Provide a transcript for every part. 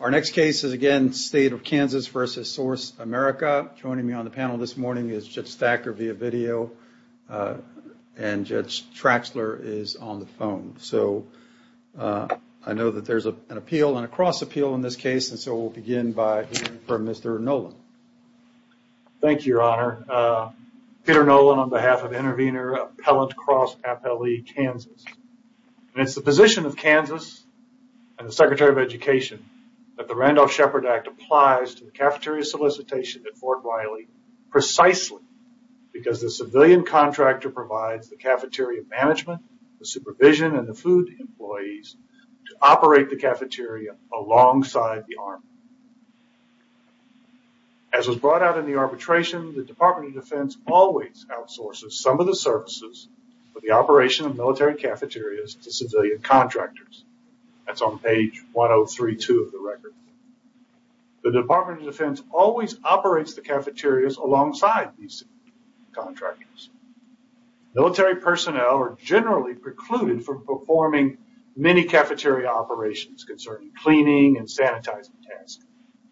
Our next case is again State of Kansas v. SourceAmerica. Joining me on the panel this morning is Judge Thacker via video and Judge Traxler is on the phone. So I know that there's an appeal and a cross appeal in this case, and so we'll begin by hearing from Mr. Nolan. Thank you, Your Honor. Peter Nolan on behalf of Intervenor Appellant Cross Appellee, Kansas. It's the position of Kansas and the Secretary of Education that the Randolph-Shepard Act applies to the cafeteria solicitation at Fort Wiley precisely because the civilian contractor provides the cafeteria management, the supervision, and the food employees to operate the cafeteria alongside the Army. As was brought out in the arbitration, the Department of Defense always outsources some of the services for the operation of military cafeterias to civilian contractors. That's on page 103-2 of the record. The Department of Defense always operates the cafeterias alongside these contractors. Military personnel are generally precluded from performing many cafeteria operations concerning cleaning and sanitizing tasks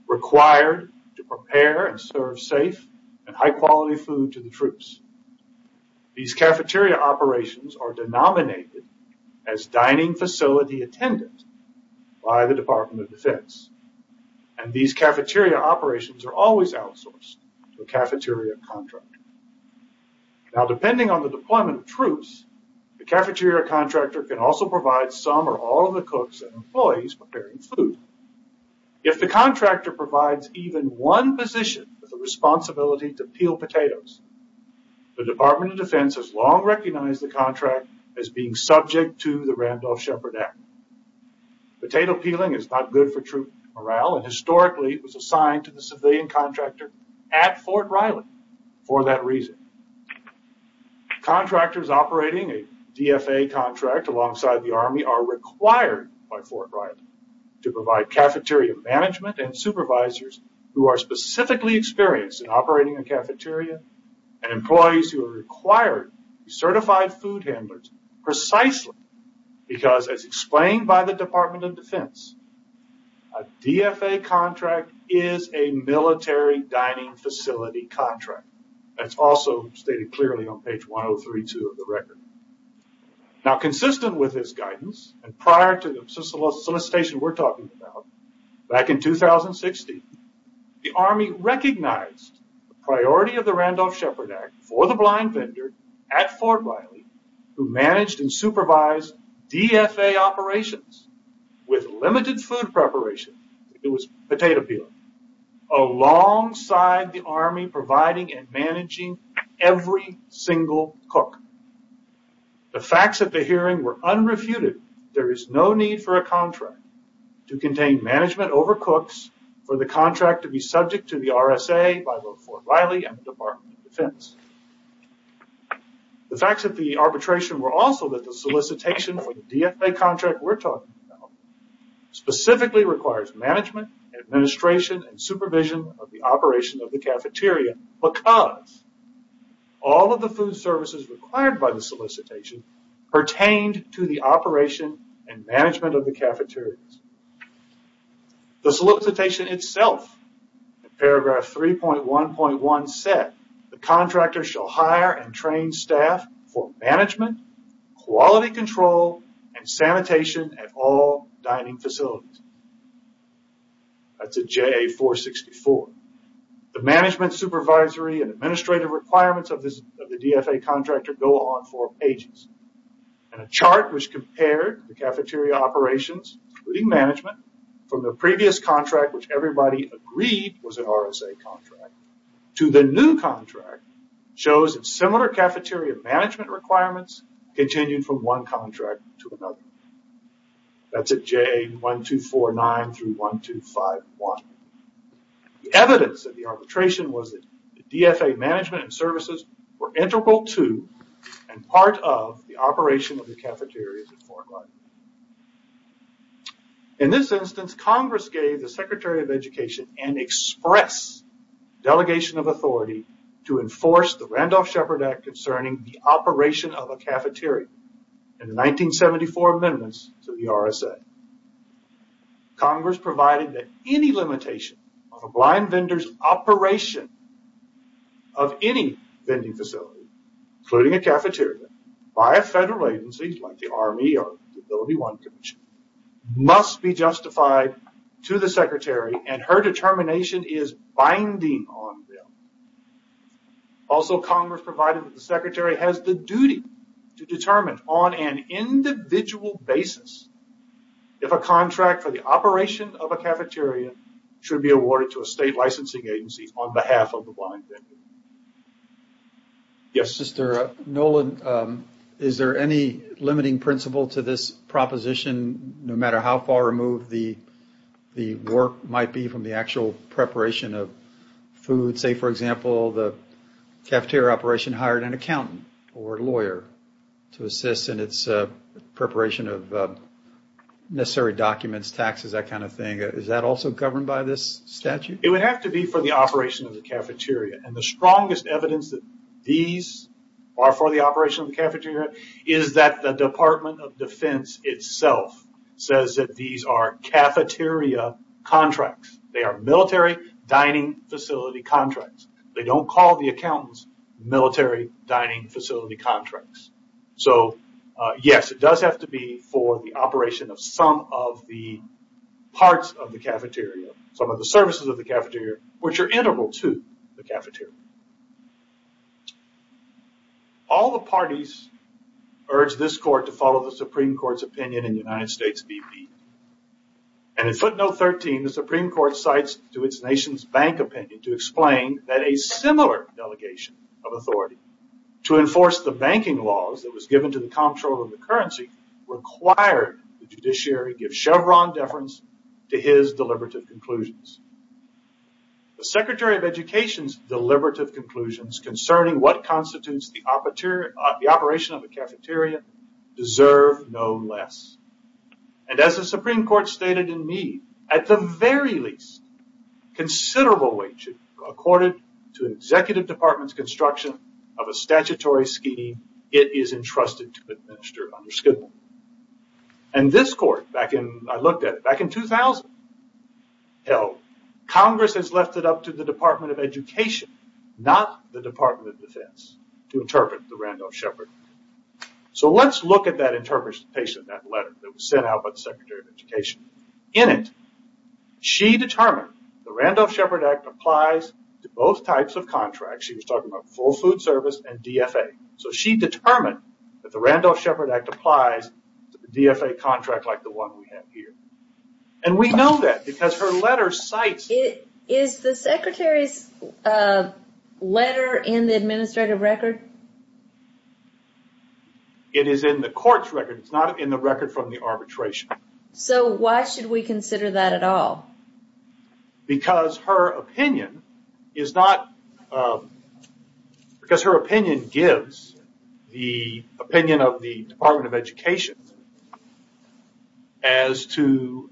required to prepare and serve safe and high-quality food to the troops. These cafeteria operations are denominated as dining facility attendance by the Department of Defense, and these cafeteria operations are always outsourced to a cafeteria contractor. Now, depending on the deployment of troops, the cafeteria contractor can also provide some or all of the cooks and employees preparing food. If the contractor provides even one position with the responsibility to peel potatoes, the Department of Defense has long recognized the contract as being subject to the Randolph-Shepard Act. Potato peeling is not good for troop morale, and historically it was assigned to the civilian contractor at Fort Wiley for that reason. Contractors operating a DFA contract alongside the Army are required by Fort Wiley to provide cafeteria management and supervisors who are specifically experienced in operating a cafeteria and employees who are required to be certified food handlers precisely because, as explained by the Department of Defense, a DFA contract is a military dining facility contract. That's also stated clearly on page 1032 of the record. Now, consistent with this guidance, and prior to the solicitation we're talking about, back in 2016 the Army recognized the priority of the Randolph-Shepard Act for the blind vendor at Fort Wiley who managed and supervised DFA operations with limited food preparation, if it was potato peeling, alongside the Army providing and managing every single cook. The facts at the hearing were unrefuted. There is no need for a contract to contain management over cooks for the contract to be subject to the RSA by both Fort Wiley and the Department of Defense. The facts of the arbitration were also that the solicitation for the DFA contract we're talking about specifically requires management, administration, and supervision of the operation of the cafeteria because all of the food services required by the solicitation pertained to the operation and management of the cafeterias. The solicitation itself, paragraph 3.1.1 said, the contractor shall hire and train staff for management, quality control, and sanitation at all dining facilities. That's a JA-464. The management, supervisory, and administrative requirements of the DFA contractor go on for pages. A chart which compared the cafeteria operations, including management, from the previous contract, which everybody agreed was an RSA contract, to the new contract shows that similar cafeteria management requirements continued from one contract to another. That's at JA-1249 through 1251. The evidence of the arbitration was that the DFA management and services were integral to and part of the operation of the cafeterias at Fort Wiley. In this instance, Congress gave the Secretary of Education an express delegation of authority to enforce the Randolph-Shepard Act concerning the operation of a cafeteria in the 1974 amendments to the RSA. Congress provided that any limitation of a blind vendor's operation of any vending facility, including a cafeteria, by a federal agency like the Army or the AbilityOne Commission, must be justified to the Secretary, and her determination is binding on them. Also, Congress provided that the Secretary has the duty to determine, on an individual basis, if a contract for the operation of a cafeteria should be awarded to a state licensing agency on behalf of the blind vendor. Yes? Nolan, is there any limiting principle to this proposition, no matter how far removed the work might be from the actual preparation of food? You could say, for example, the cafeteria operation hired an accountant or lawyer to assist in its preparation of necessary documents, taxes, that kind of thing. Is that also governed by this statute? It would have to be for the operation of the cafeteria. The strongest evidence that these are for the operation of the cafeteria is that the Department of Defense itself says that these are cafeteria contracts. They are military dining facility contracts. They don't call the accountants military dining facility contracts. Yes, it does have to be for the operation of some of the parts of the cafeteria, some of the services of the cafeteria, which are integral to the cafeteria. All the parties urge this court to follow the Supreme Court's opinion in the United States BP. In footnote 13, the Supreme Court cites to its nation's bank opinion to explain that a similar delegation of authority to enforce the banking laws that was given to the comptroller of the currency required the judiciary give Chevron deference to his deliberative conclusions. The Secretary of Education's deliberative conclusions concerning what constitutes the operation of a cafeteria deserve no less. As the Supreme Court stated in me, at the very least, considerable wage accorded to an executive department's construction of a statutory scheme, it is entrusted to administer under Skidmore. This court, I looked at it, back in 2000, held Congress has left it up to the Department of Education, not the Department of Defense, to interpret the Randolph-Shepard. Let's look at that interpretation of that letter that was sent out by the Secretary of Education. In it, she determined the Randolph-Shepard Act applies to both types of contracts. She was talking about full food service and DFA. She determined that the Randolph-Shepard Act applies to the DFA contract like the one we have here. We know that because her letter cites... It is in the court's record. It's not in the record from the arbitration. Why should we consider that at all? Because her opinion gives the opinion of the Department of Education as to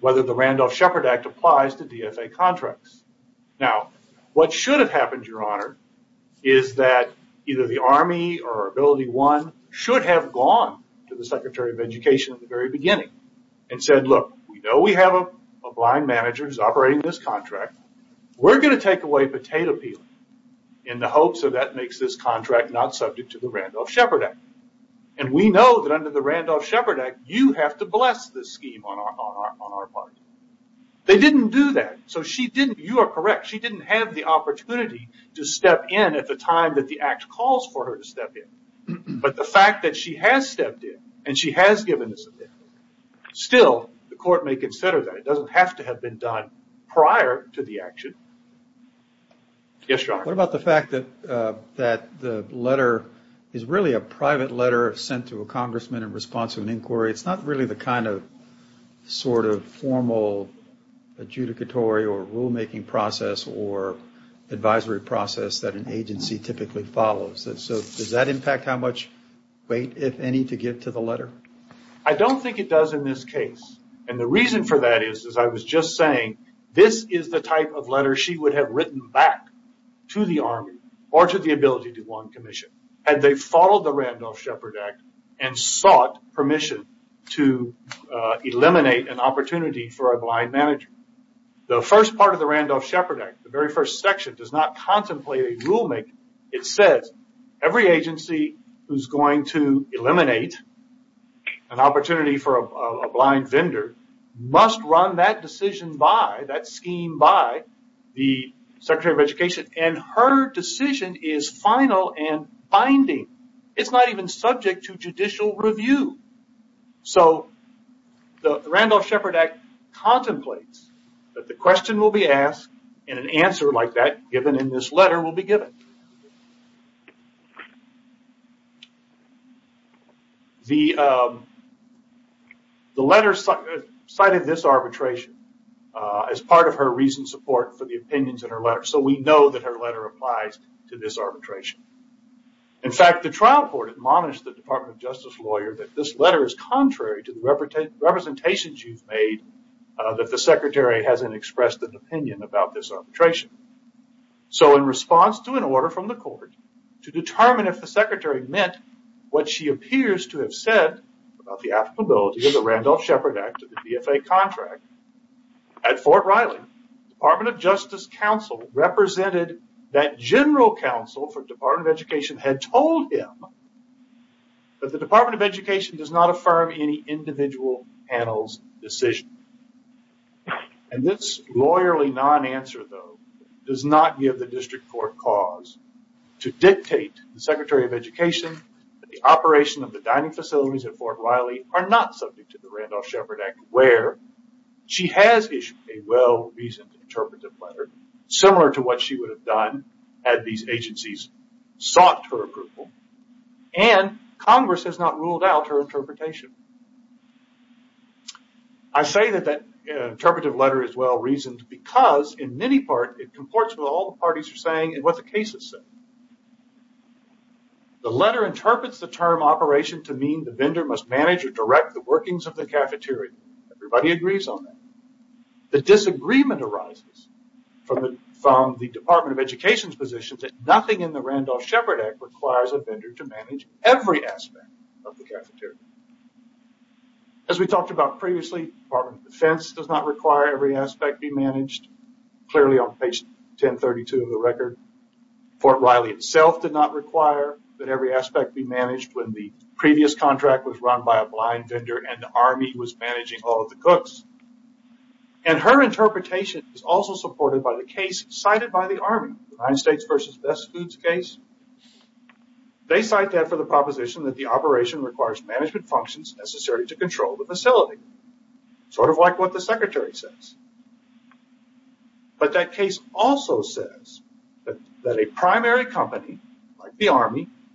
whether the Randolph-Shepard Act applies to DFA contracts. What should have happened, Your Honor, is that either the Army or AbilityOne should have gone to the Secretary of Education at the very beginning and said, look, we know we have a blind manager who's operating this contract. We're going to take away potato peeling in the hopes that that makes this contract not subject to the Randolph-Shepard Act. We know that under the Randolph-Shepard Act, you have to bless this scheme on our part. They didn't do that. You are correct. She didn't have the opportunity to step in at the time that the act calls for her to step in. But the fact that she has stepped in and she has given this opinion, still the court may consider that. It doesn't have to have been done prior to the action. Yes, Your Honor. What about the fact that the letter is really a private letter sent to a congressman in response to an inquiry? It's not really the kind of sort of formal adjudicatory or rulemaking process or advisory process that an agency typically follows. So does that impact how much weight, if any, to give to the letter? I don't think it does in this case. And the reason for that is, as I was just saying, this is the type of letter she would have written back to the Army or to the Ability to Want Commission had they followed the Randolph-Shepard Act and sought permission to eliminate an opportunity for a blind manager. The first part of the Randolph-Shepard Act, the very first section, does not contemplate a rulemaking. It says every agency who's going to eliminate an opportunity for a blind vendor must run that decision by, that scheme by, the Secretary of Education. And her decision is final and binding. It's not even subject to judicial review. So the Randolph-Shepard Act contemplates that the question will be asked and an answer like that given in this letter will be given. The letter cited this arbitration as part of her recent support for the opinions in her letter. So we know that her letter applies to this arbitration. In fact, the trial court admonished the Department of Justice lawyer that this letter is contrary to the representations you've made that the Secretary hasn't expressed an opinion about this arbitration. So in response to an order from the court to determine if the Secretary meant what she appears to have said about the applicability of the Randolph-Shepard Act to the DFA contract, at Fort Riley, Department of Justice counsel represented that general counsel for Department of Education had told him that the Department of Education does not affirm any individual panel's decision. And this lawyerly non-answer, though, does not give the district court cause to dictate to the Secretary of Education that the operation of the dining facilities at Fort Riley are not subject to the Randolph-Shepard Act where she has issued a well-reasoned interpretive letter similar to what she would have done had these agencies sought her approval and Congress has not ruled out her interpretation. I say that that interpretive letter is well-reasoned because, in many parts, it comports with all the parties are saying and what the cases say. The letter interprets the term operation to mean the vendor must manage or direct the workings of the cafeteria. Everybody agrees on that. The disagreement arises from the Department of Education's position that nothing in the Randolph-Shepard Act requires a vendor to manage every aspect of the cafeteria. As we talked about previously, the Department of Defense does not require every aspect be managed, clearly on page 1032 of the record. Fort Riley itself did not require that every aspect be managed when the previous contract was run by a blind vendor and the Army was managing all of the cooks. And her interpretation is also supported by the case cited by the Army, the United States v. Best Foods case. They cite that for the proposition that the operation requires management functions necessary to control the facility, sort of like what the Secretary says.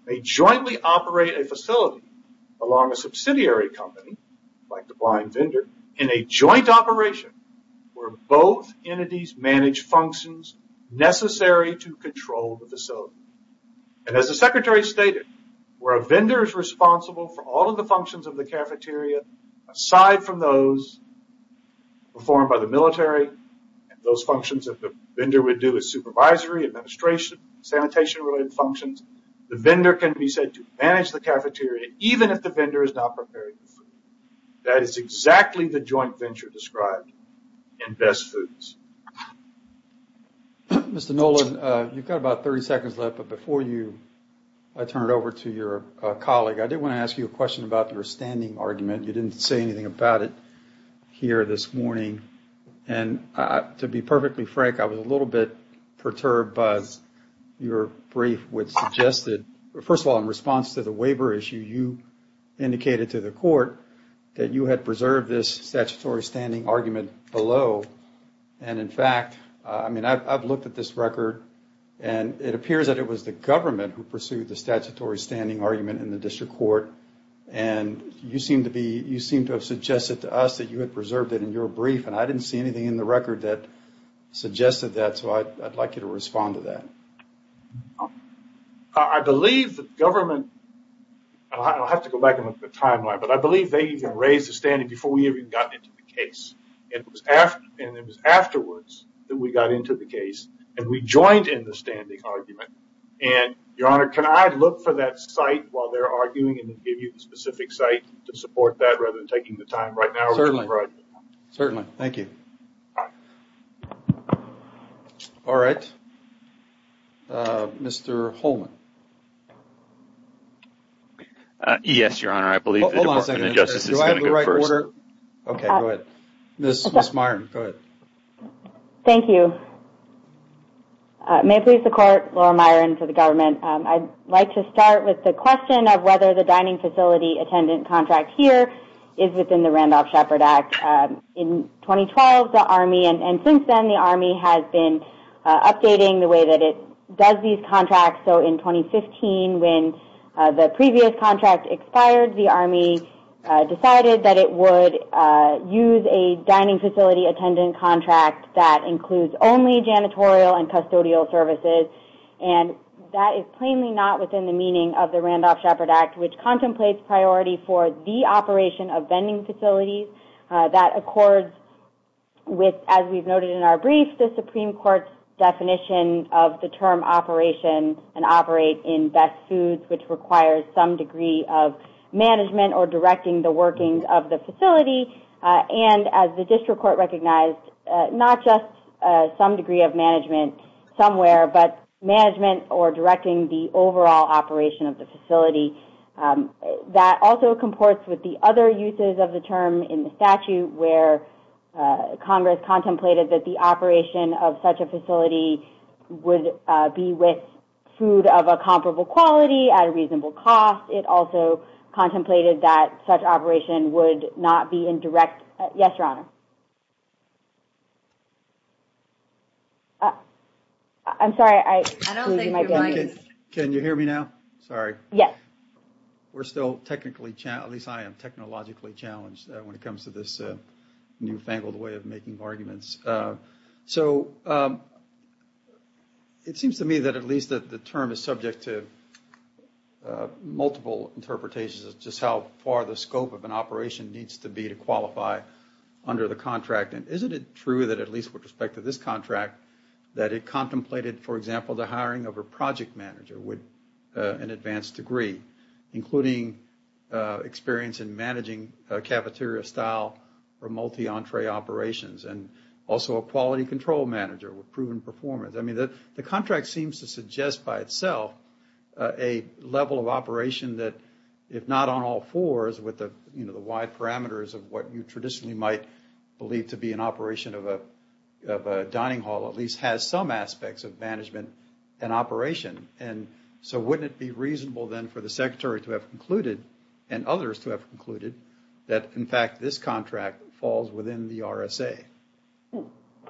may jointly operate a facility along a subsidiary company, like the blind vendor, in a joint operation where both entities manage functions necessary to control the facility. And as the Secretary stated, where a vendor is responsible for all of the functions of the cafeteria, aside from those performed by the military, and those functions that the vendor would do as supervisory, administration, sanitation related functions, the vendor can be said to manage the cafeteria, even if the vendor is not preparing the food. That is exactly the joint venture described in Best Foods. Mr. Nolan, you've got about 30 seconds left, but before I turn it over to your colleague, I did want to ask you a question about your standing argument. You didn't say anything about it here this morning. To be perfectly frank, I was a little bit perturbed because your brief would suggest that, first of all, in response to the waiver issue, you indicated to the court that you had preserved this statutory standing argument below. And in fact, I've looked at this record, and it appears that it was the government who pursued the statutory standing argument in the district court, and you seem to have suggested to us that you had preserved it in your brief, and I didn't see anything in the record that suggested that, so I'd like you to respond to that. I believe the government... I'll have to go back and look at the timeline, but I believe they even raised the standing before we even got into the case. And it was afterwards that we got into the case, and we joined in the standing argument. And, Your Honor, can I look for that site while they're arguing and give you the specific site to support that rather than taking the time right now? Certainly. Certainly. Thank you. All right. Mr. Holman. Yes, Your Honor. I believe the Department of Justice is going to go first. Do I have the right order? Okay, go ahead. Ms. Myron, go ahead. Thank you. May it please the Court, Laura Myron for the government. I'd like to start with the question of whether the dining facility attendant contract here is within the Randolph-Sheppard Act. In 2012, the Army, and since then, the Army has been updating the way that it does these contracts. So in 2015, when the previous contract expired, the Army decided that it would use a dining facility attendant contract that includes only janitorial and custodial services, and that is plainly not within the meaning of the Randolph-Sheppard Act, which contemplates priority for the operation of vending facilities. That accords with, as we've noted in our brief, the Supreme Court's definition of the term operation and operate in best foods, which requires some degree of management or directing the workings of the facility. And as the district court recognized, not just some degree of management somewhere, but management or directing the overall operation of the facility. That also comports with the other uses of the term in the statute where Congress contemplated that the operation of such a facility would be with food of a comparable quality at a reasonable cost. It also contemplated that such operation would not be indirect. Yes, Your Honor. I'm sorry, I'm losing my voice. Can you hear me now? Sorry. Yes. We're still technically challenged, at least I am technologically challenged when it comes to this newfangled way of making arguments. So it seems to me that at least that the term is subject to multiple interpretations of just how far the scope of an operation needs to be to qualify under the contract. And isn't it true that at least with respect to this contract that it contemplated, for example, the hiring of a project manager with an advanced degree, including experience in managing cafeteria style or multi-entree operations and also a quality control manager with proven performance. The contract seems to suggest by itself a level of operation that if not on all fours with the wide parameters of what you traditionally might believe to be an operation of a dining hall at least has some aspects of management and operation. And so wouldn't it be reasonable then for the Secretary to have concluded and others to have concluded that in fact this contract falls within the RSA?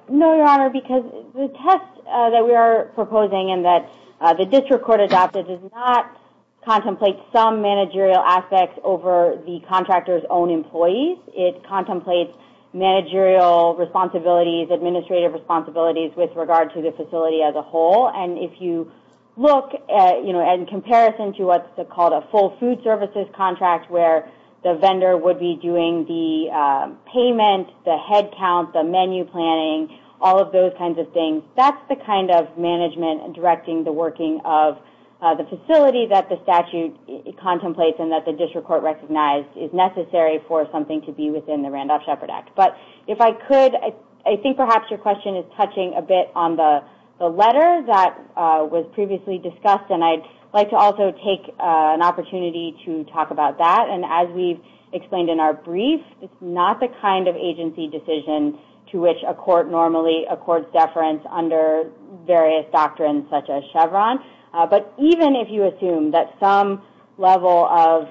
No, Your Honor, because the test that we are proposing and that the district court adopted does not contemplate some managerial aspects over the contractor's own employees. It contemplates managerial responsibilities, administrative responsibilities with regard to the facility as a whole. And if you look at in comparison to what's called a full food services contract where the vendor would be doing the payment, the head count, the menu planning, all of those kinds of things, that's the kind of management directing the working of the facility that the statute contemplates and that the district court recognized is necessary for something to be within the Randolph-Shepard Act. But if I could, I think perhaps your question is touching a bit on the letter that was previously discussed and I'd like to also take an opportunity to talk about that. And as we've explained in our brief, it's not the kind of agency decision to which a court normally, a court's deference under various doctrines such as Chevron. But even if you assume that some level of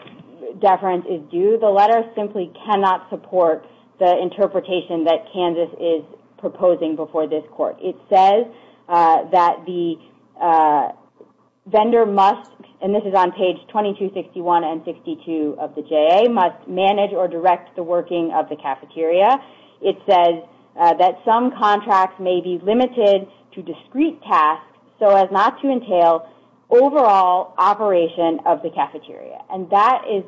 deference is due, the letter simply cannot support the interpretation that Kansas is proposing before this court. It says that the vendor must, and this is on page 2261 and 62 of the JA, must manage or direct the working of the cafeteria. It says that some contracts may be limited to discrete tasks so as not to entail overall operation of the cafeteria. And that is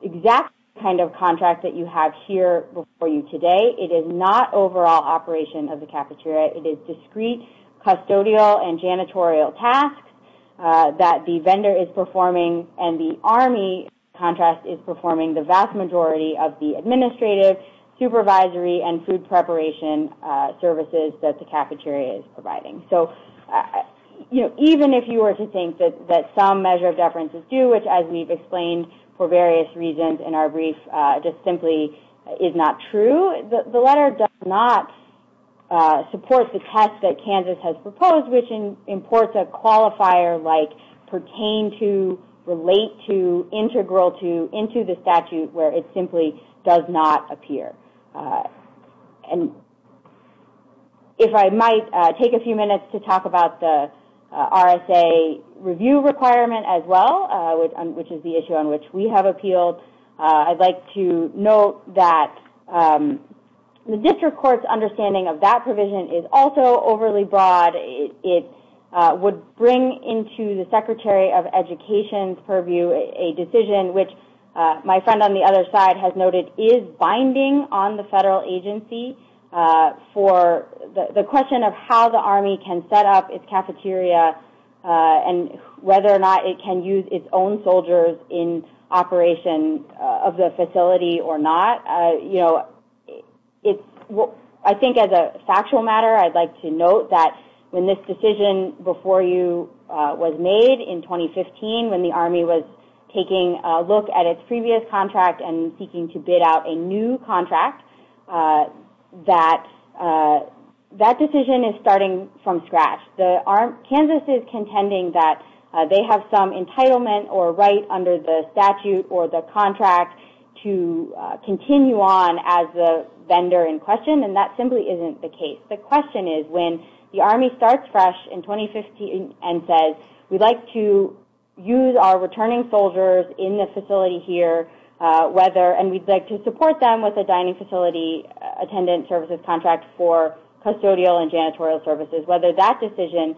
exactly the kind of contract that you have here before you today. It is not overall operation of the cafeteria. It is discrete custodial and janitorial tasks that the vendor is performing and the Army contract is performing the vast majority of the administrative, supervisory, and food preparation services that the cafeteria is providing. Even if you were to think that some measure of deference is due, which as we've explained for various reasons in our brief, just simply is not true, the letter does not support the test that Kansas has proposed which imports a qualifier like pertain to, relate to, integral to, into the statute where it simply does not appear. And if I might take a few minutes to talk about the RSA review requirement as well, which is the issue on which we have appealed. I'd like to note that the district court's understanding of that provision is also overly broad. It would bring into the Secretary of Education's purview a decision which my friend on the other side has noted is binding on the federal agency for the question of how the Army can set up its cafeteria and whether or not it can use its own soldiers in operation of the facility or not. I think as a factual matter I'd like to note that when this decision before you was made in 2015 when the Army was taking a look at its previous contract and seeking to bid out a new contract, that decision is starting from scratch. Kansas is contending that they have some entitlement or right under the statute or the contract to continue on as the vendor in question and that simply isn't the case. The question is when the Army starts fresh in 2015 and says we'd like to use our returning soldiers in the facility here and we'd like to support them with a dining facility attendant services contract for custodial and janitorial services, whether that decision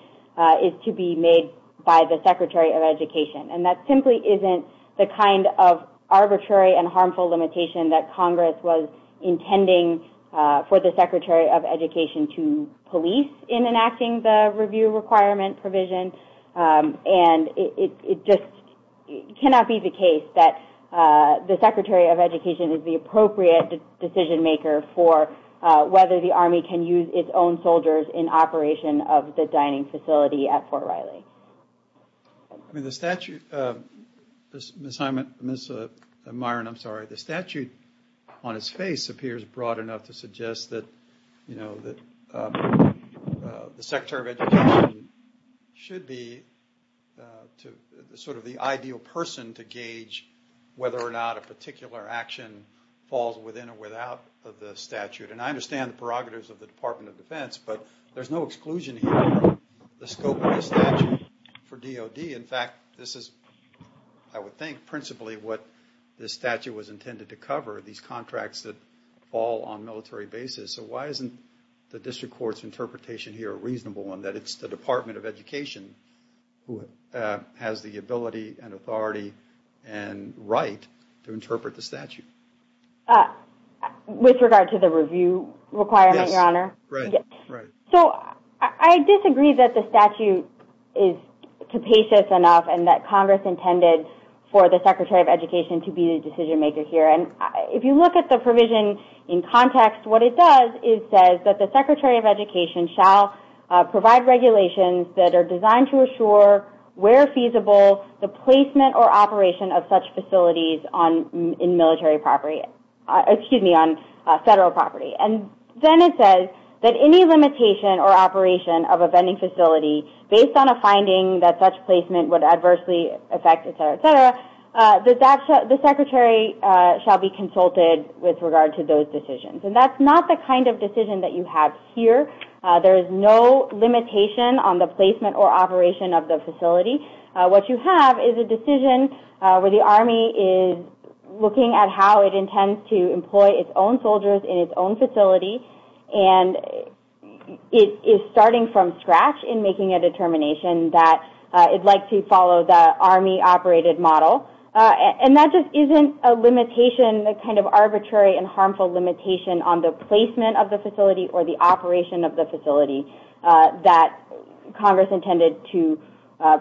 is to be made by the Secretary of Education. And that simply isn't the kind of arbitrary and harmful limitation that Congress was intending for the Secretary of Education to police in enacting the review requirement provision and it just cannot be the case that the Secretary of Education is the appropriate decision maker for whether the Army can use its own soldiers in operation of the dining facility at Fort Riley. I mean the statute, Ms. Myron, I'm sorry, to suggest that the Secretary of Education should be sort of the ideal person to gauge whether or not a particular action falls within or without the statute. And I understand the prerogatives of the Department of Defense, but there's no exclusion here from the scope of the statute for DOD. In fact, this is, I would think, principally what this statute was intended to cover, these contracts that fall on military basis. So why isn't the District Court's interpretation here reasonable in that it's the Department of Education who has the ability and authority and right to interpret the statute? With regard to the review requirement, Your Honor? Yes, right. So I disagree that the statute is capacious enough and that Congress intended for the Secretary of Education to be the decision maker here. And if you look at the provision in context, what it does is says that the Secretary of Education shall provide regulations that are designed to assure, where feasible, the placement or operation of such facilities in military property, excuse me, on federal property. And then it says that any limitation or operation of a vending facility based on a finding that such placement would adversely affect, etc., etc., the Secretary shall be consulted with regard to those decisions. And that's not the kind of decision that you have here. There is no limitation on the placement or operation of the facility. What you have is a decision where the Army is looking at how it intends to employ its own soldiers in its own facility and is starting from scratch in making a determination that it'd like to follow the Army-operated model. And that just isn't a limitation, a kind of arbitrary and harmful limitation on the placement of the facility or the operation of the facility that Congress intended to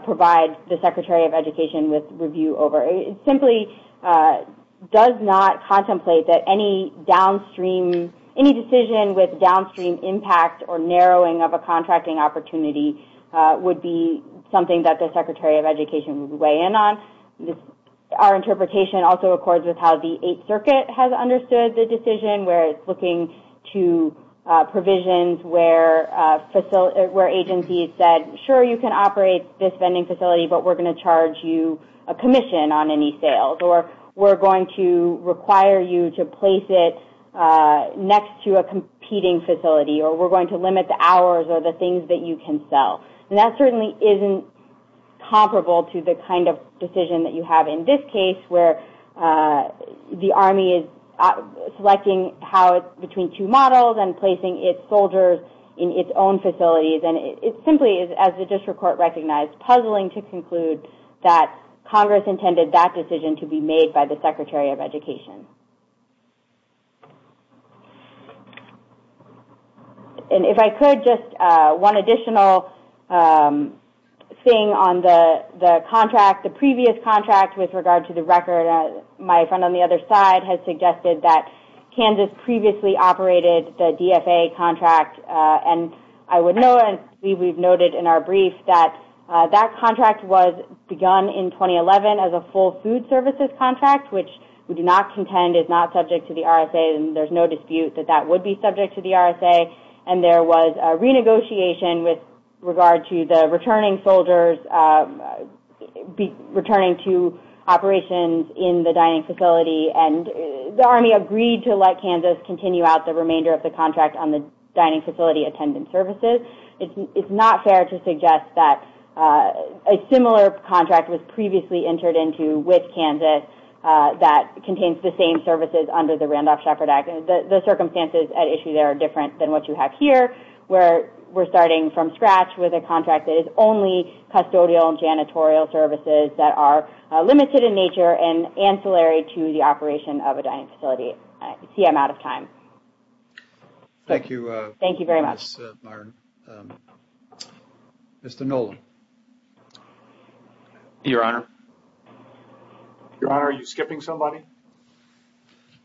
provide the Secretary of Education with review over. It simply does not contemplate that any downstream, any decision with downstream impact or narrowing of a contracting opportunity would be something that the Secretary of Education would weigh in on. Our interpretation also accords with how the Eighth Circuit has understood the decision where it's looking to provisions where agencies said, sure, you can operate this vending facility, but we're going to charge you a commission on any sales or we're going to require you to place it next to a competing facility or we're going to limit the hours or the things that you can sell. And that certainly isn't comparable to the kind of decision that you have in this case where the Army is selecting how it's between two models and placing its soldiers in its own facilities. And it simply is, as the district court recognized, puzzling to conclude that Congress intended that decision to be made by the Secretary of Education. And if I could, just one additional thing on the contract, the previous contract with regard to the record, my friend on the other side has suggested that Kansas previously operated the DFA contract and I would note and I believe we've noted in our brief that that contract was begun in 2011 as a full food services contract, which we do not contend is not subject to the RSA and there's no dispute that that would be subject to the RSA. And there was a renegotiation with regard to the returning soldiers returning to operations in the dining facility and the Army agreed to let Kansas continue out the remainder of the contract on the dining facility attendant services. It's not fair to suggest that a similar contract was previously entered into with Kansas that contains the same services under the Randolph-Shepard Act. The circumstances at issue there are different than what you have here where we're starting from scratch with a contract that is only custodial and janitorial services that are limited in nature and ancillary to the operation of a dining facility. I see I'm out of time. Thank you. Thank you very much. Mr. Nolan. Your Honor. Your Honor, are you skipping somebody?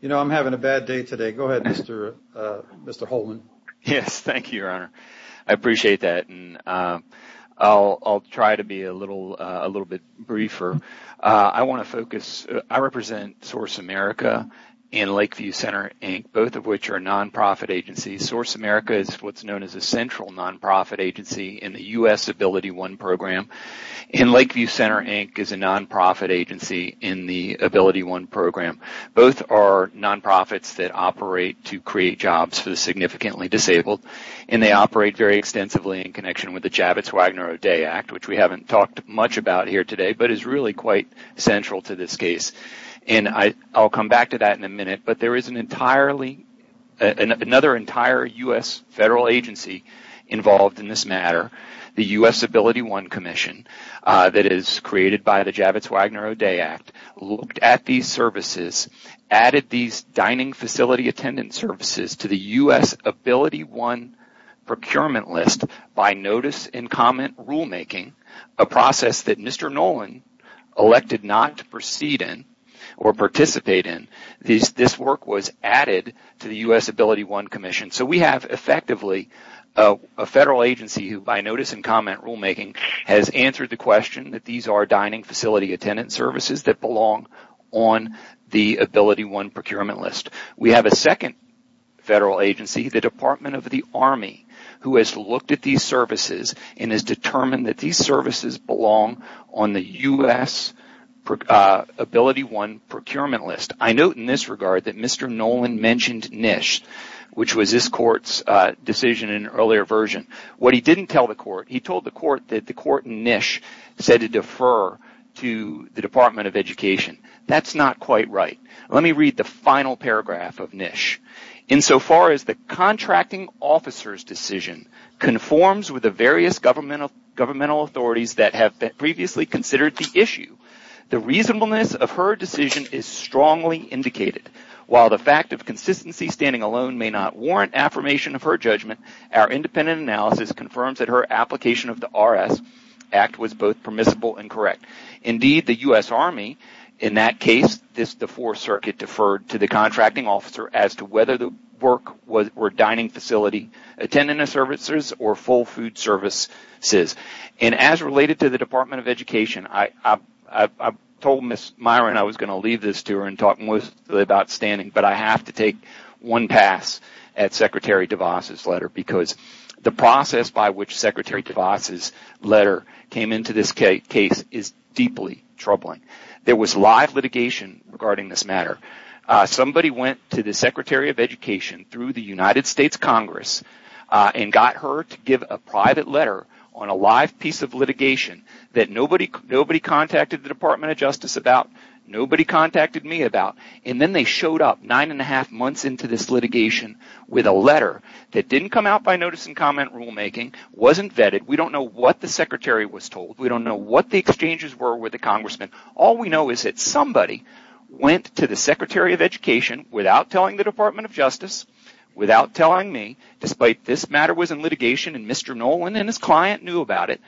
You know, I'm having a bad day today. Go ahead, Mr. Holman. Yes, thank you, Your Honor. I appreciate that. I'll try to be a little bit briefer. I want to focus. I represent Source America and Lakeview Center, Inc., both of which are nonprofit agencies. Source America is what's known as a central nonprofit agency in the U.S. AbilityOne program, and Lakeview Center, Inc. is a nonprofit agency in the AbilityOne program. Both are nonprofits that operate to create jobs for the significantly disabled, and they operate very extensively in connection with the Javits-Wagner O'Day Act, which we haven't talked much about here today but is really quite central to this case. And I'll come back to that in a minute, but there is another entire U.S. federal agency involved in this matter, the U.S. AbilityOne Commission that is created by the Javits-Wagner O'Day Act, looked at these services, added these dining facility attendant services to the U.S. AbilityOne procurement list by notice and comment rulemaking, a process that Mr. Nolan elected not to proceed in or participate in. This work was added to the U.S. AbilityOne Commission. So we have effectively a federal agency who, by notice and comment rulemaking, has answered the question that these are dining facility attendant services that belong on the AbilityOne procurement list. We have a second federal agency, the Department of the Army, who has looked at these services and has determined that these services belong on the U.S. AbilityOne procurement list. I note in this regard that Mr. Nolan mentioned NISH, which was his court's decision in an earlier version. What he didn't tell the court, he told the court that the court in NISH said to defer to the Department of Education. That's not quite right. Let me read the final paragraph of NISH. Insofar as the contracting officer's decision conforms with the various governmental authorities that have previously considered the issue, the reasonableness of her decision is strongly indicated. While the fact of consistency standing alone may not warrant affirmation of her judgment, our independent analysis confirms that her application of the R.S. Act was both permissible and correct. Indeed, the U.S. Army, in that case, this, the Fourth Circuit, deferred to the contracting officer as to whether the work or dining facility attended the services or full food services. As related to the Department of Education, I told Ms. Myron I was going to leave this to her and talk mostly about standing, but I have to take one pass at Secretary DeVos's letter because the process by which Secretary DeVos's letter came into this case is deeply troubling. There was live litigation regarding this matter. Somebody went to the Secretary of Education through the United States Congress and got her to give a private letter on a live piece of litigation that nobody contacted the Department of Justice about, nobody contacted me about, and then they showed up nine and a half months into this litigation with a letter that didn't come out by notice and comment rulemaking, wasn't vetted, we don't know what the Secretary was told, we don't know what the exchanges were with the Congressman, all we know is that somebody went to the Secretary of Education without telling the Department of Justice, without telling me, despite this matter was in litigation and Mr. Nolan and his client knew about it,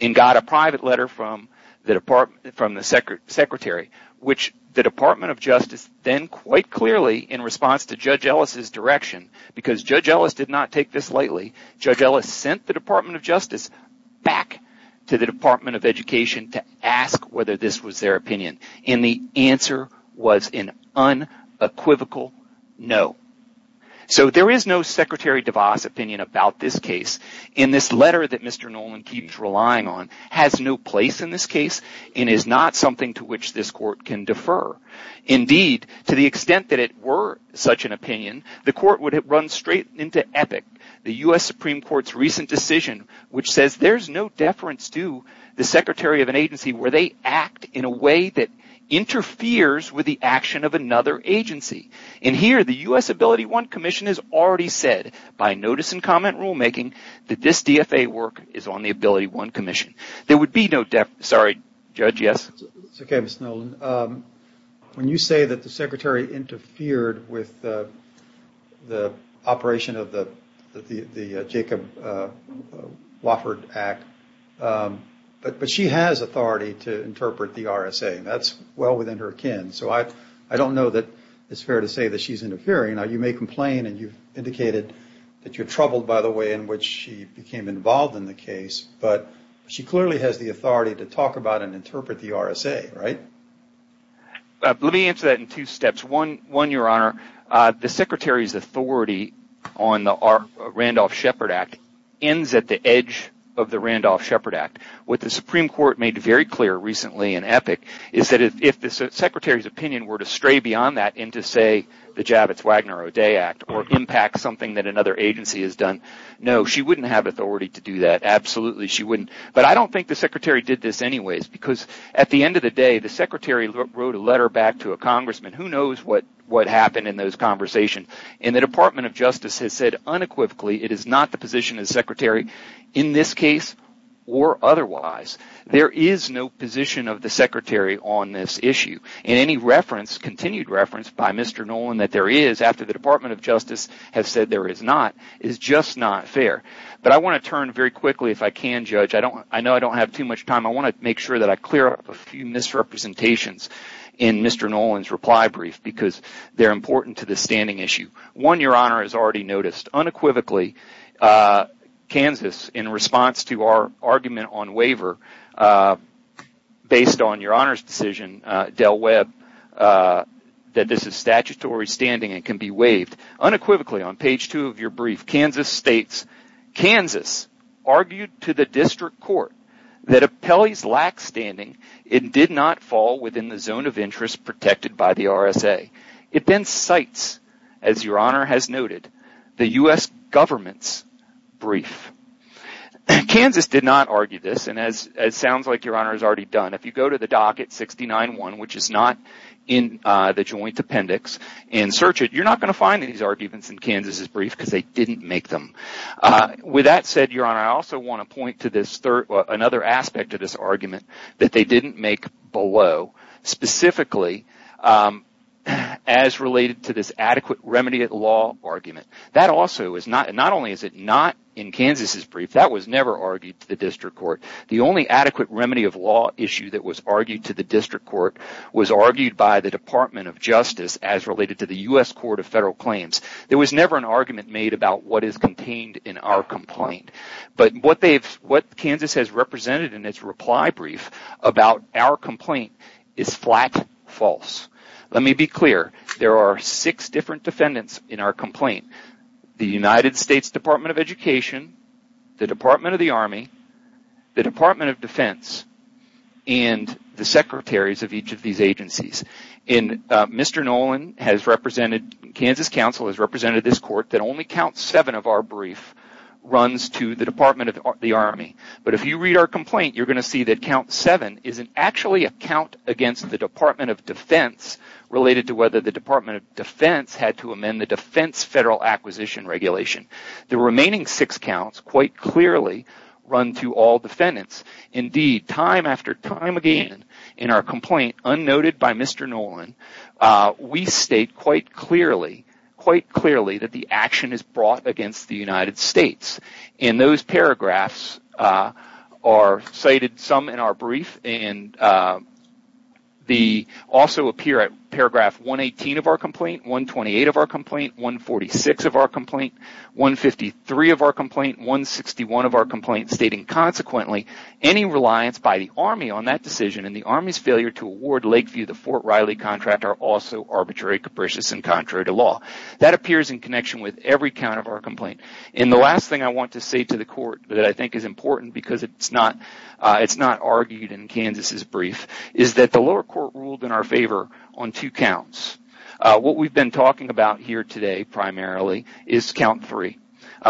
and got a private letter from the Secretary, which the Department of Justice then quite clearly in response to Judge Ellis' direction, because Judge Ellis did not take this lightly, Judge Ellis sent the Department of Justice back to the Department of Education to ask whether this was their opinion, and the answer was an unequivocal no. So there is no Secretary DeVos opinion about this case, and this letter that Mr. Nolan keeps relying on has no place in this case and is not something to which this court can defer. Indeed, to the extent that it were such an opinion, the court would have run straight into epic. The U.S. Supreme Court's recent decision which says there's no deference to the Secretary of an agency where they act in a way that interferes with the action of another agency. And here the U.S. Ability One Commission has already said by notice and comment rulemaking that this DFA work is on the Ability One Commission. There would be no deference. Sorry, Judge, yes? It's okay, Mr. Nolan. When you say that the Secretary interfered with the operation of the Jacob Wofford Act, but she has authority to interpret the RSA, and that's well within her kin. So I don't know that it's fair to say that she's interfering. Now, you may complain, and you've indicated that you're troubled, by the way, in which she became involved in the case, but she clearly has the authority to talk about and interpret the RSA, right? Let me answer that in two steps. One, Your Honor, the Secretary's authority on the Randolph-Shepard Act ends at the edge of the Randolph-Shepard Act. What the Supreme Court made very clear recently in EPIC is that if the Secretary's opinion were to stray beyond that and to say the Javits-Wagner-O'Day Act or impact something that another agency has done, no, she wouldn't have authority to do that. Absolutely she wouldn't. But I don't think the Secretary did this anyways because at the end of the day, the Secretary wrote a letter back to a congressman. Who knows what happened in those conversations? And the Department of Justice has said unequivocally it is not the position of the Secretary in this case or otherwise. There is no position of the Secretary on this issue. And any reference, continued reference, by Mr. Nolan that there is after the Department of Justice has said there is not is just not fair. But I want to turn very quickly, if I can, Judge. I know I don't have too much time. I want to make sure that I clear up a few misrepresentations in Mr. Nolan's reply brief because they're important to the standing issue. One, Your Honor, has already noticed unequivocally, Kansas, in response to our argument on waiver based on Your Honor's decision, Del Webb, that this is statutory standing and can be waived. Unequivocally, on page two of your brief, Kansas states, Kansas argued to the District Court that Appellee's lack standing did not fall within the zone of interest protected by the RSA. It then cites, as Your Honor has noted, the U.S. government's brief. Kansas did not argue this, and as it sounds like Your Honor has already done, if you go to the docket 69-1, which is not in the joint appendix, and search it, you're not going to find these arguments in Kansas' brief because they didn't make them. With that said, Your Honor, I also want to point to this third, another aspect of this argument that they didn't make below, specifically as related to this adequate remedy of law argument. That also is not, not only is it not in Kansas' brief, that was never argued to the District Court. The only adequate remedy of law issue that was argued to the District Court was argued by the Department of Justice as related to the U.S. Court of Federal Claims. There was never an argument made about what is contained in our complaint. But what Kansas has represented in its reply brief about our complaint is flat false. Let me be clear. There are six different defendants in our complaint. The United States Department of Education, the Department of the Army, the Department of Defense, and the secretaries of each of these agencies. And Mr. Nolan has represented, Kansas Council has represented this court that only count seven of our brief runs to the Department of the Army. But if you read our complaint, you're going to see that count seven isn't actually a count against the Department of Defense related to whether the Department of Defense had to amend the Defense Federal Acquisition Regulation. The remaining six counts quite clearly run to all defendants. Indeed, time after time again in our complaint, unnoted by Mr. Nolan, we state quite clearly that the action is brought against the United States. And those paragraphs are cited some in our brief and also appear at paragraph 118 of our complaint, 128 of our complaint, 146 of our complaint, 153 of our complaint, 161 of our complaint, stating consequently, any reliance by the Army on that decision and the Army's failure to award Lakeview the Fort Riley contract are also arbitrary, capricious, and contrary to law. That appears in connection with every count of our complaint. And the last thing I want to say to the court that I think is important because it's not argued in Kansas' brief is that the lower court ruled in our favor on two counts. What we've been talking about here today primarily is count three.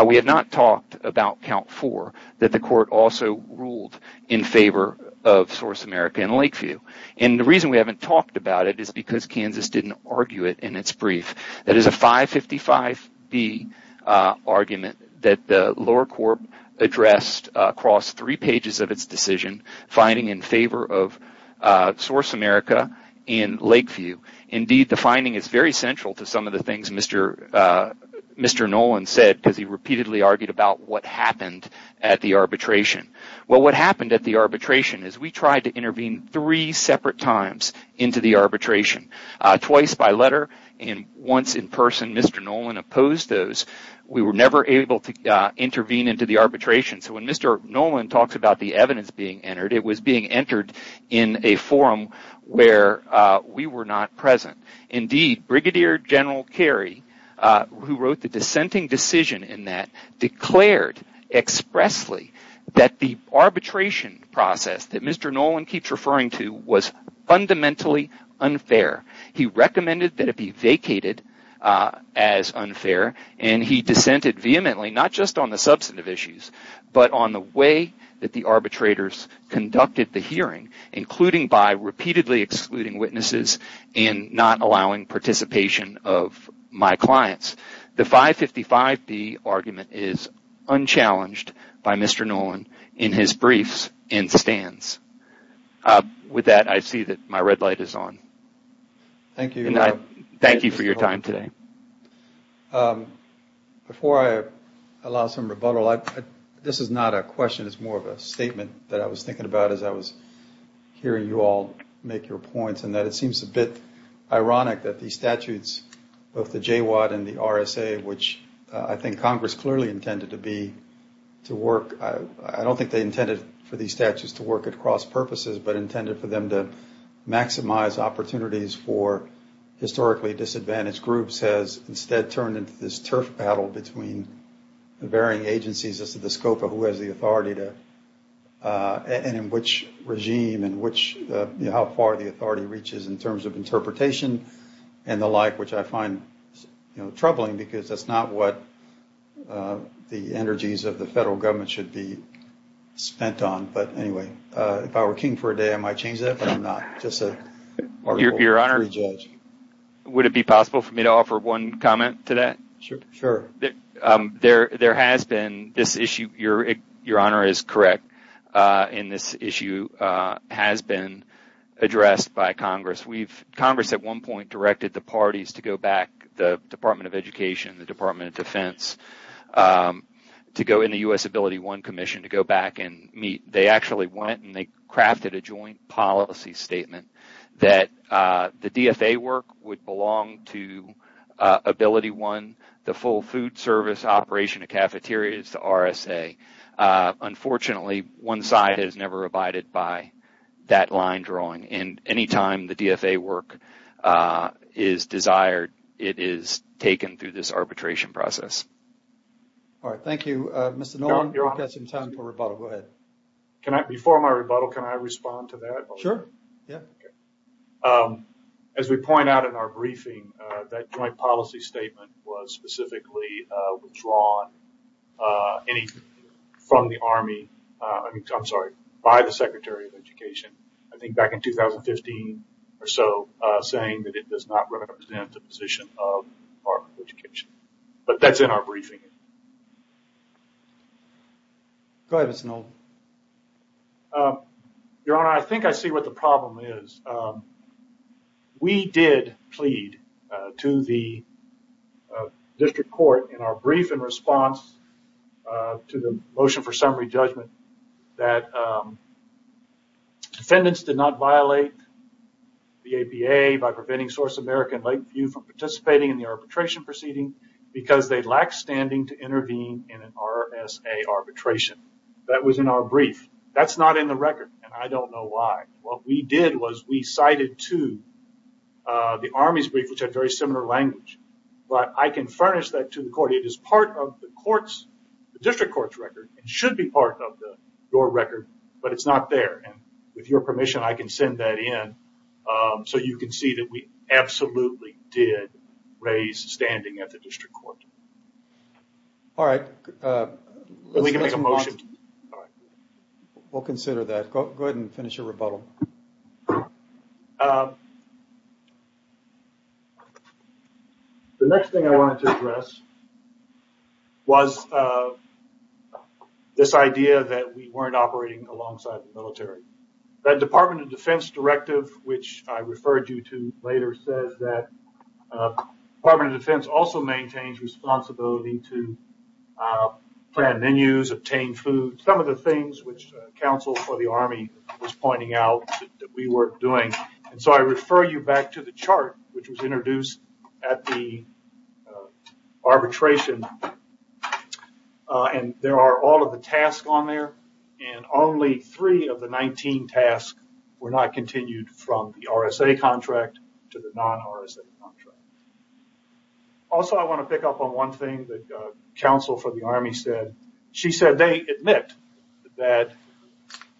We have not talked about count four that the court also ruled in favor of Source America and Lakeview. And the reason we haven't talked about it is because Kansas didn't argue it in its brief. That is a 555B argument that the lower court addressed across three pages of its decision finding in favor of Source America and Lakeview. Indeed, the finding is very central to some of the things Mr. Nolan said because he repeatedly argued about what happened at the arbitration. Well, what happened at the arbitration is we tried to intervene three separate times into the arbitration. Twice by letter and once in person. Mr. Nolan opposed those. We were never able to intervene into the arbitration. So when Mr. Nolan talks about the evidence being entered it was being entered in a forum where we were not present. Indeed, Brigadier General Carey who wrote the dissenting decision in that declared expressly that the arbitration process that Mr. Nolan keeps referring to was fundamentally unfair. He recommended that it be vacated as unfair and he dissented vehemently not just on the substantive issues but on the way that the arbitrators conducted the hearing including by repeatedly excluding witnesses and not allowing participation of my clients. The 555B argument is unchallenged by Mr. Nolan in his briefs and stands. With that, I see that my red light is on. Thank you for your time today. Before I allow some rebuttal this is not a question it's more of a statement that I was thinking about as I was hearing you all make your points and that it seems a bit ironic that these statutes both the JWAT and the RSA which I think Congress clearly intended to be to work I don't think they intended for these statutes to work at cross purposes but intended for them to maximize opportunities for historically disadvantaged groups which Congress has instead turned into this turf battle between the varying agencies as to the scope of who has the authority and in which regime and how far the authority reaches in terms of interpretation and the like which I find troubling because that's not what the energies of the federal government should be spent on but anyway if I were king for a day I might change that but I'm not just a free judge. Would it be possible for me to offer one comment to that? Sure. There has been this issue your honor is correct in this issue has been addressed by Congress Congress at one point directed the parties to go back the Department of Education the Department of Defense to go in the U.S. Ability I Commission to go back and meet they actually went and they crafted a joint policy statement that the DFA work would belong to Ability I the full food service operation of cafeterias the RSA unfortunately one side has never abided by that line drawing and any time the DFA work is desired it is taken through this arbitration process. All right, thank you. Mr. Nolan we've got some time for rebuttal. Go ahead. Before my rebuttal can I respond to that? Sure. As we point out in our briefing that joint policy statement was specifically withdrawn from the Army I'm sorry by the Secretary of Education I think back in 2015 or so saying that it does not represent but that's in our briefing. Go ahead, Mr. Nolan. Your Honor, I think I see what the problem is. We did plead to the District Court in our briefing response to the motion for summary judgment that defendants did not violate the APA by preventing Source America and Lakeview from participating in the arbitration proceeding because they lack standing to intervene in an RSA arbitration. That was in our brief. That's not in the record and I don't know why. What we did was we cited to the Army's brief which had very similar language but I can furnish that to the Court. It is part of the District Court's record and should be part of your record but it's not there. With your permission I can send that in so you can see that we absolutely did raise standing at the District Court. All right. We can make a motion. We'll consider that. Go ahead and finish your rebuttal. The next thing I wanted to address was this idea that we weren't operating alongside the military. The Department of Defense directive which I referred you to later says that the Department of Defense also maintains responsibility to plan menus, obtain food, some of the things which counsel for the Army was pointing out that we weren't doing. I refer you back to the chart which was introduced at the arbitration. There are all of the tasks on there and only three of the 19 tasks were not continued from the RSA contract to the non-RSA contract. Also, I want to pick up on one thing that counsel for the Army said. She said they admit that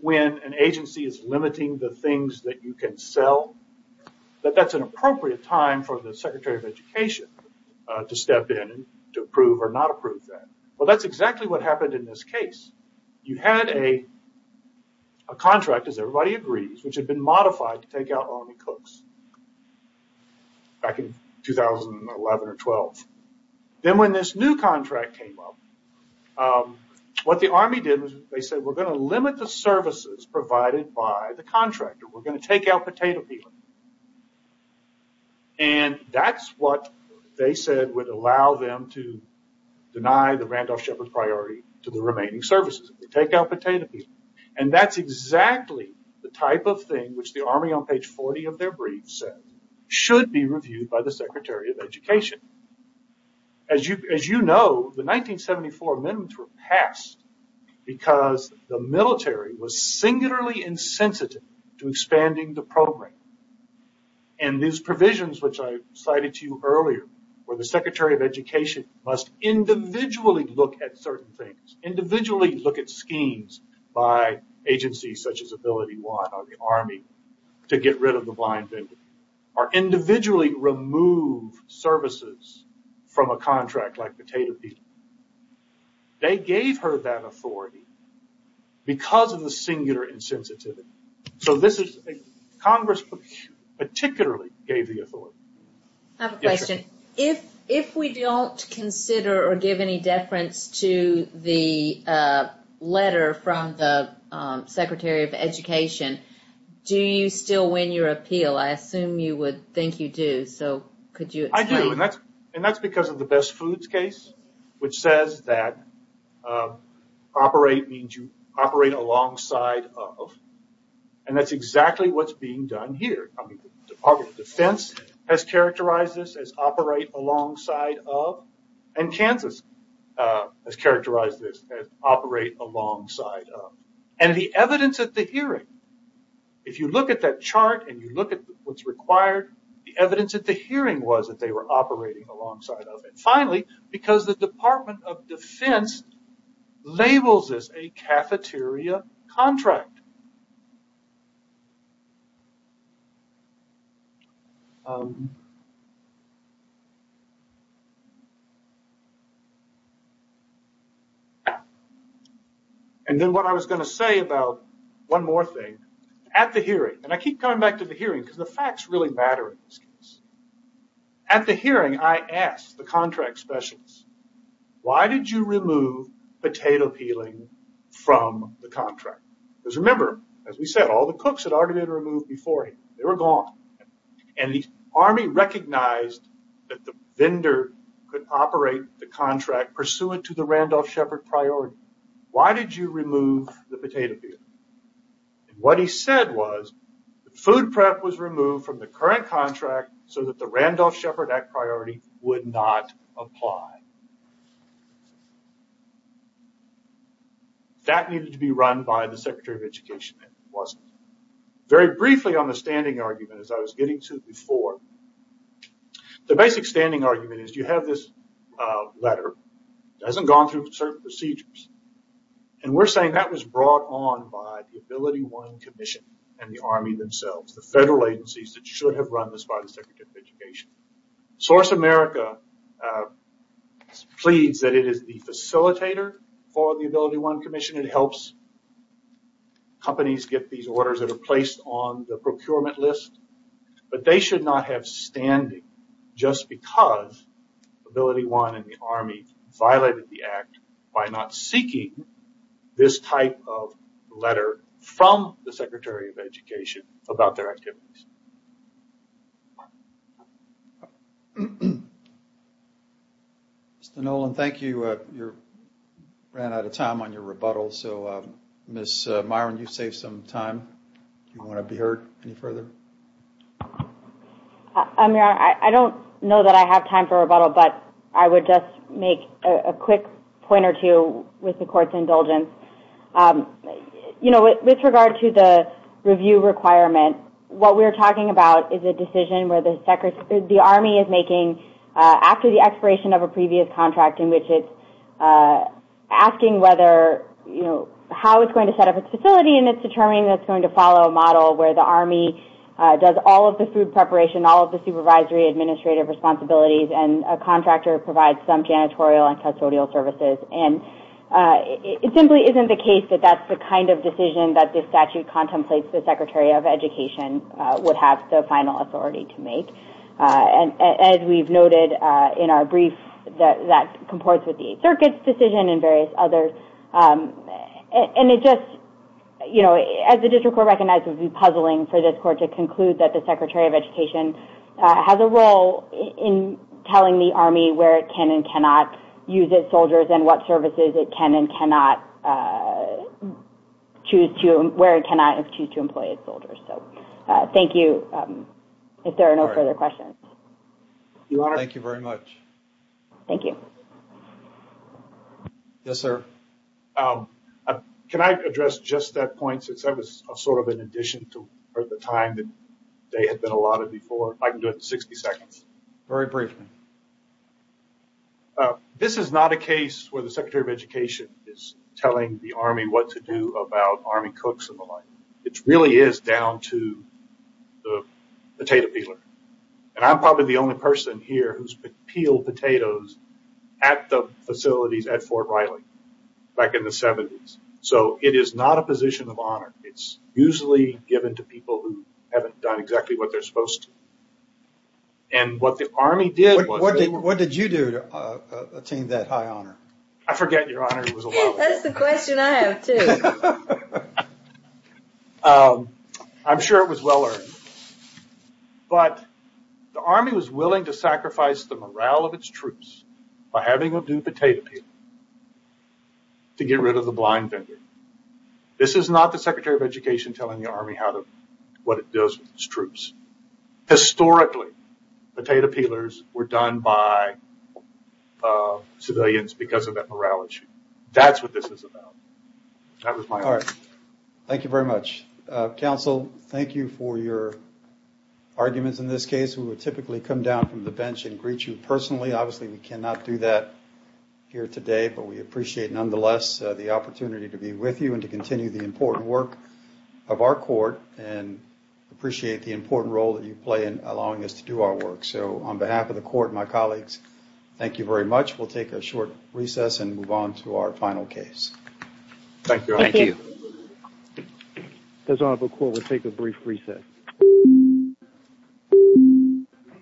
when an agency is limiting the things that you can sell that that's an appropriate time for the Secretary of Education to step in to approve or not approve that. That's exactly what happened in this case. You had a contract as everybody agrees which had been modified to take out Army cooks back in 2011 or 12. Then when this new contract came up what the Army did was they said we're going to limit the services provided by the contractor. We're going to take out potato peeler. That's what they said would allow them to deny the Randolph Shepherds priority to the remaining services. They take out potato peeler. That's exactly the type of thing which the Army on page 40 of their brief said should be reviewed by the Secretary of Education. As you know the 1974 amendments were passed because the military was singularly insensitive to expanding the program. These provisions which I cited to you earlier where the Secretary of Education must individually look at certain things individually look at schemes by agencies such as Ability One or the Army to get rid of the blind people or individually remove services from a contract like potato peeler. They gave her that authority because of the singular insensitivity. Congress particularly gave the authority. I have a question. If we don't consider or give any deference to the letter from the Secretary of Education do you still win your appeal? I assume you would think you do. I do and that's because of the best foods case which says that operate means you operate alongside of and that's exactly what's being done here. The Department of Defense has characterized this as operate alongside of and Kansas has characterized this as operate alongside of. The evidence at the hearing if you look at that chart and you look at what's required the evidence at the hearing was that they were operating alongside of and finally because the Department of Defense labels this a cafeteria contract. Then what I was going to say about one more thing at the hearing and I keep coming back to the hearing because the facts really matter. At the hearing I asked the contract specialists why did you remove potato peeling from the contract? Remember as we said all the cooks had already been removed before they were gone and the Army recognized that the vendor could operate the contract pursuant to the Randolph Shepard priority. Why did you remove the what they said was food prep was removed from the current contract so that the Randolph Shepard act priority would not apply. That needed to be run by the Secretary of Education and it wasn't. Very briefly on the standing argument as I was getting to before the basic standing argument is you have this letter that hasn't gone through certain procedures and we're saying that was brought on by the AbilityOne Commission and the Army themselves. The federal agencies that should have run this by the Secretary of Education. Source America pleads that it is the facilitator for the AbilityOne Commission and helps companies get these orders that are placed on the procurement list but they should not have standing just because AbilityOne and the Army violated the act by not seeking this type of letter from the Secretary of Education about their activities. Thank you. Ran out of time on your rebuttal. Ms. Myron, you saved some time. Do you want to be heard any further? I don't know that I have time for rebuttal but I would just make a quick point or two with the Court's indulgence. With regard to the review requirement, what we're talking about is a decision where the Army is making after the expiration of a previous contract in which it's asking how it's going to set up its facility and it's determining that it's going to follow a model where the Army does all of the food preparation, all of the supervisory administrative responsibilities and a contractor provides some janitorial and custodial services. It simply isn't the case that that's the kind of decision that this statute contemplates the Secretary of Education would have the final authority to make. As we've noted in our brief, that comports with the Eighth Circuit's decision and various others. As the District Court recognizes, it would be puzzling for this Court to conclude that the Secretary of Education has a role in telling the Army where it can and cannot use its soldiers and what services it can and cannot choose to, where it cannot choose to employ its soldiers. Thank you. If there are no further questions. Thank you very much. Thank you. Yes, sir. Can I address just that point since I was sort of in addition to the time that they had been allotted before? I can do it in 60 seconds. Very briefly. This is not a case where the Secretary of Education is telling the Army what to do about Army cooks and the like. It really is down to the potato peeler. I'm probably the only person here who's peeled potatoes at the facilities at Fort Riley back in the 70s. It is not a position of honor. It's usually given to people who haven't done exactly what they're supposed to. What the Army did was... What did you do to attain that high honor? I forget your honor was allotted. That's the question I have too. I'm sure it was well earned. But the Army was willing to sacrifice the morale of its troops by having them do potato peeling to get rid of the blind vendor. This is not the Secretary of Education telling the Army what it does with its troops. Historically, potato peelers were done by civilians because of that morale issue. That's what this is about. Thank you very much. Counsel, thank you for your arguments in this case. We would typically come down from the bench and greet you personally. Obviously, we cannot do that here today, but we appreciate nonetheless the opportunity to be part of the important work of our court and appreciate the important role that you play in allowing us to do our work. On behalf of the court and my colleagues, thank you very much. We'll take a short recess and move on to our final case. Thank you. The Honorable Court will take a brief recess.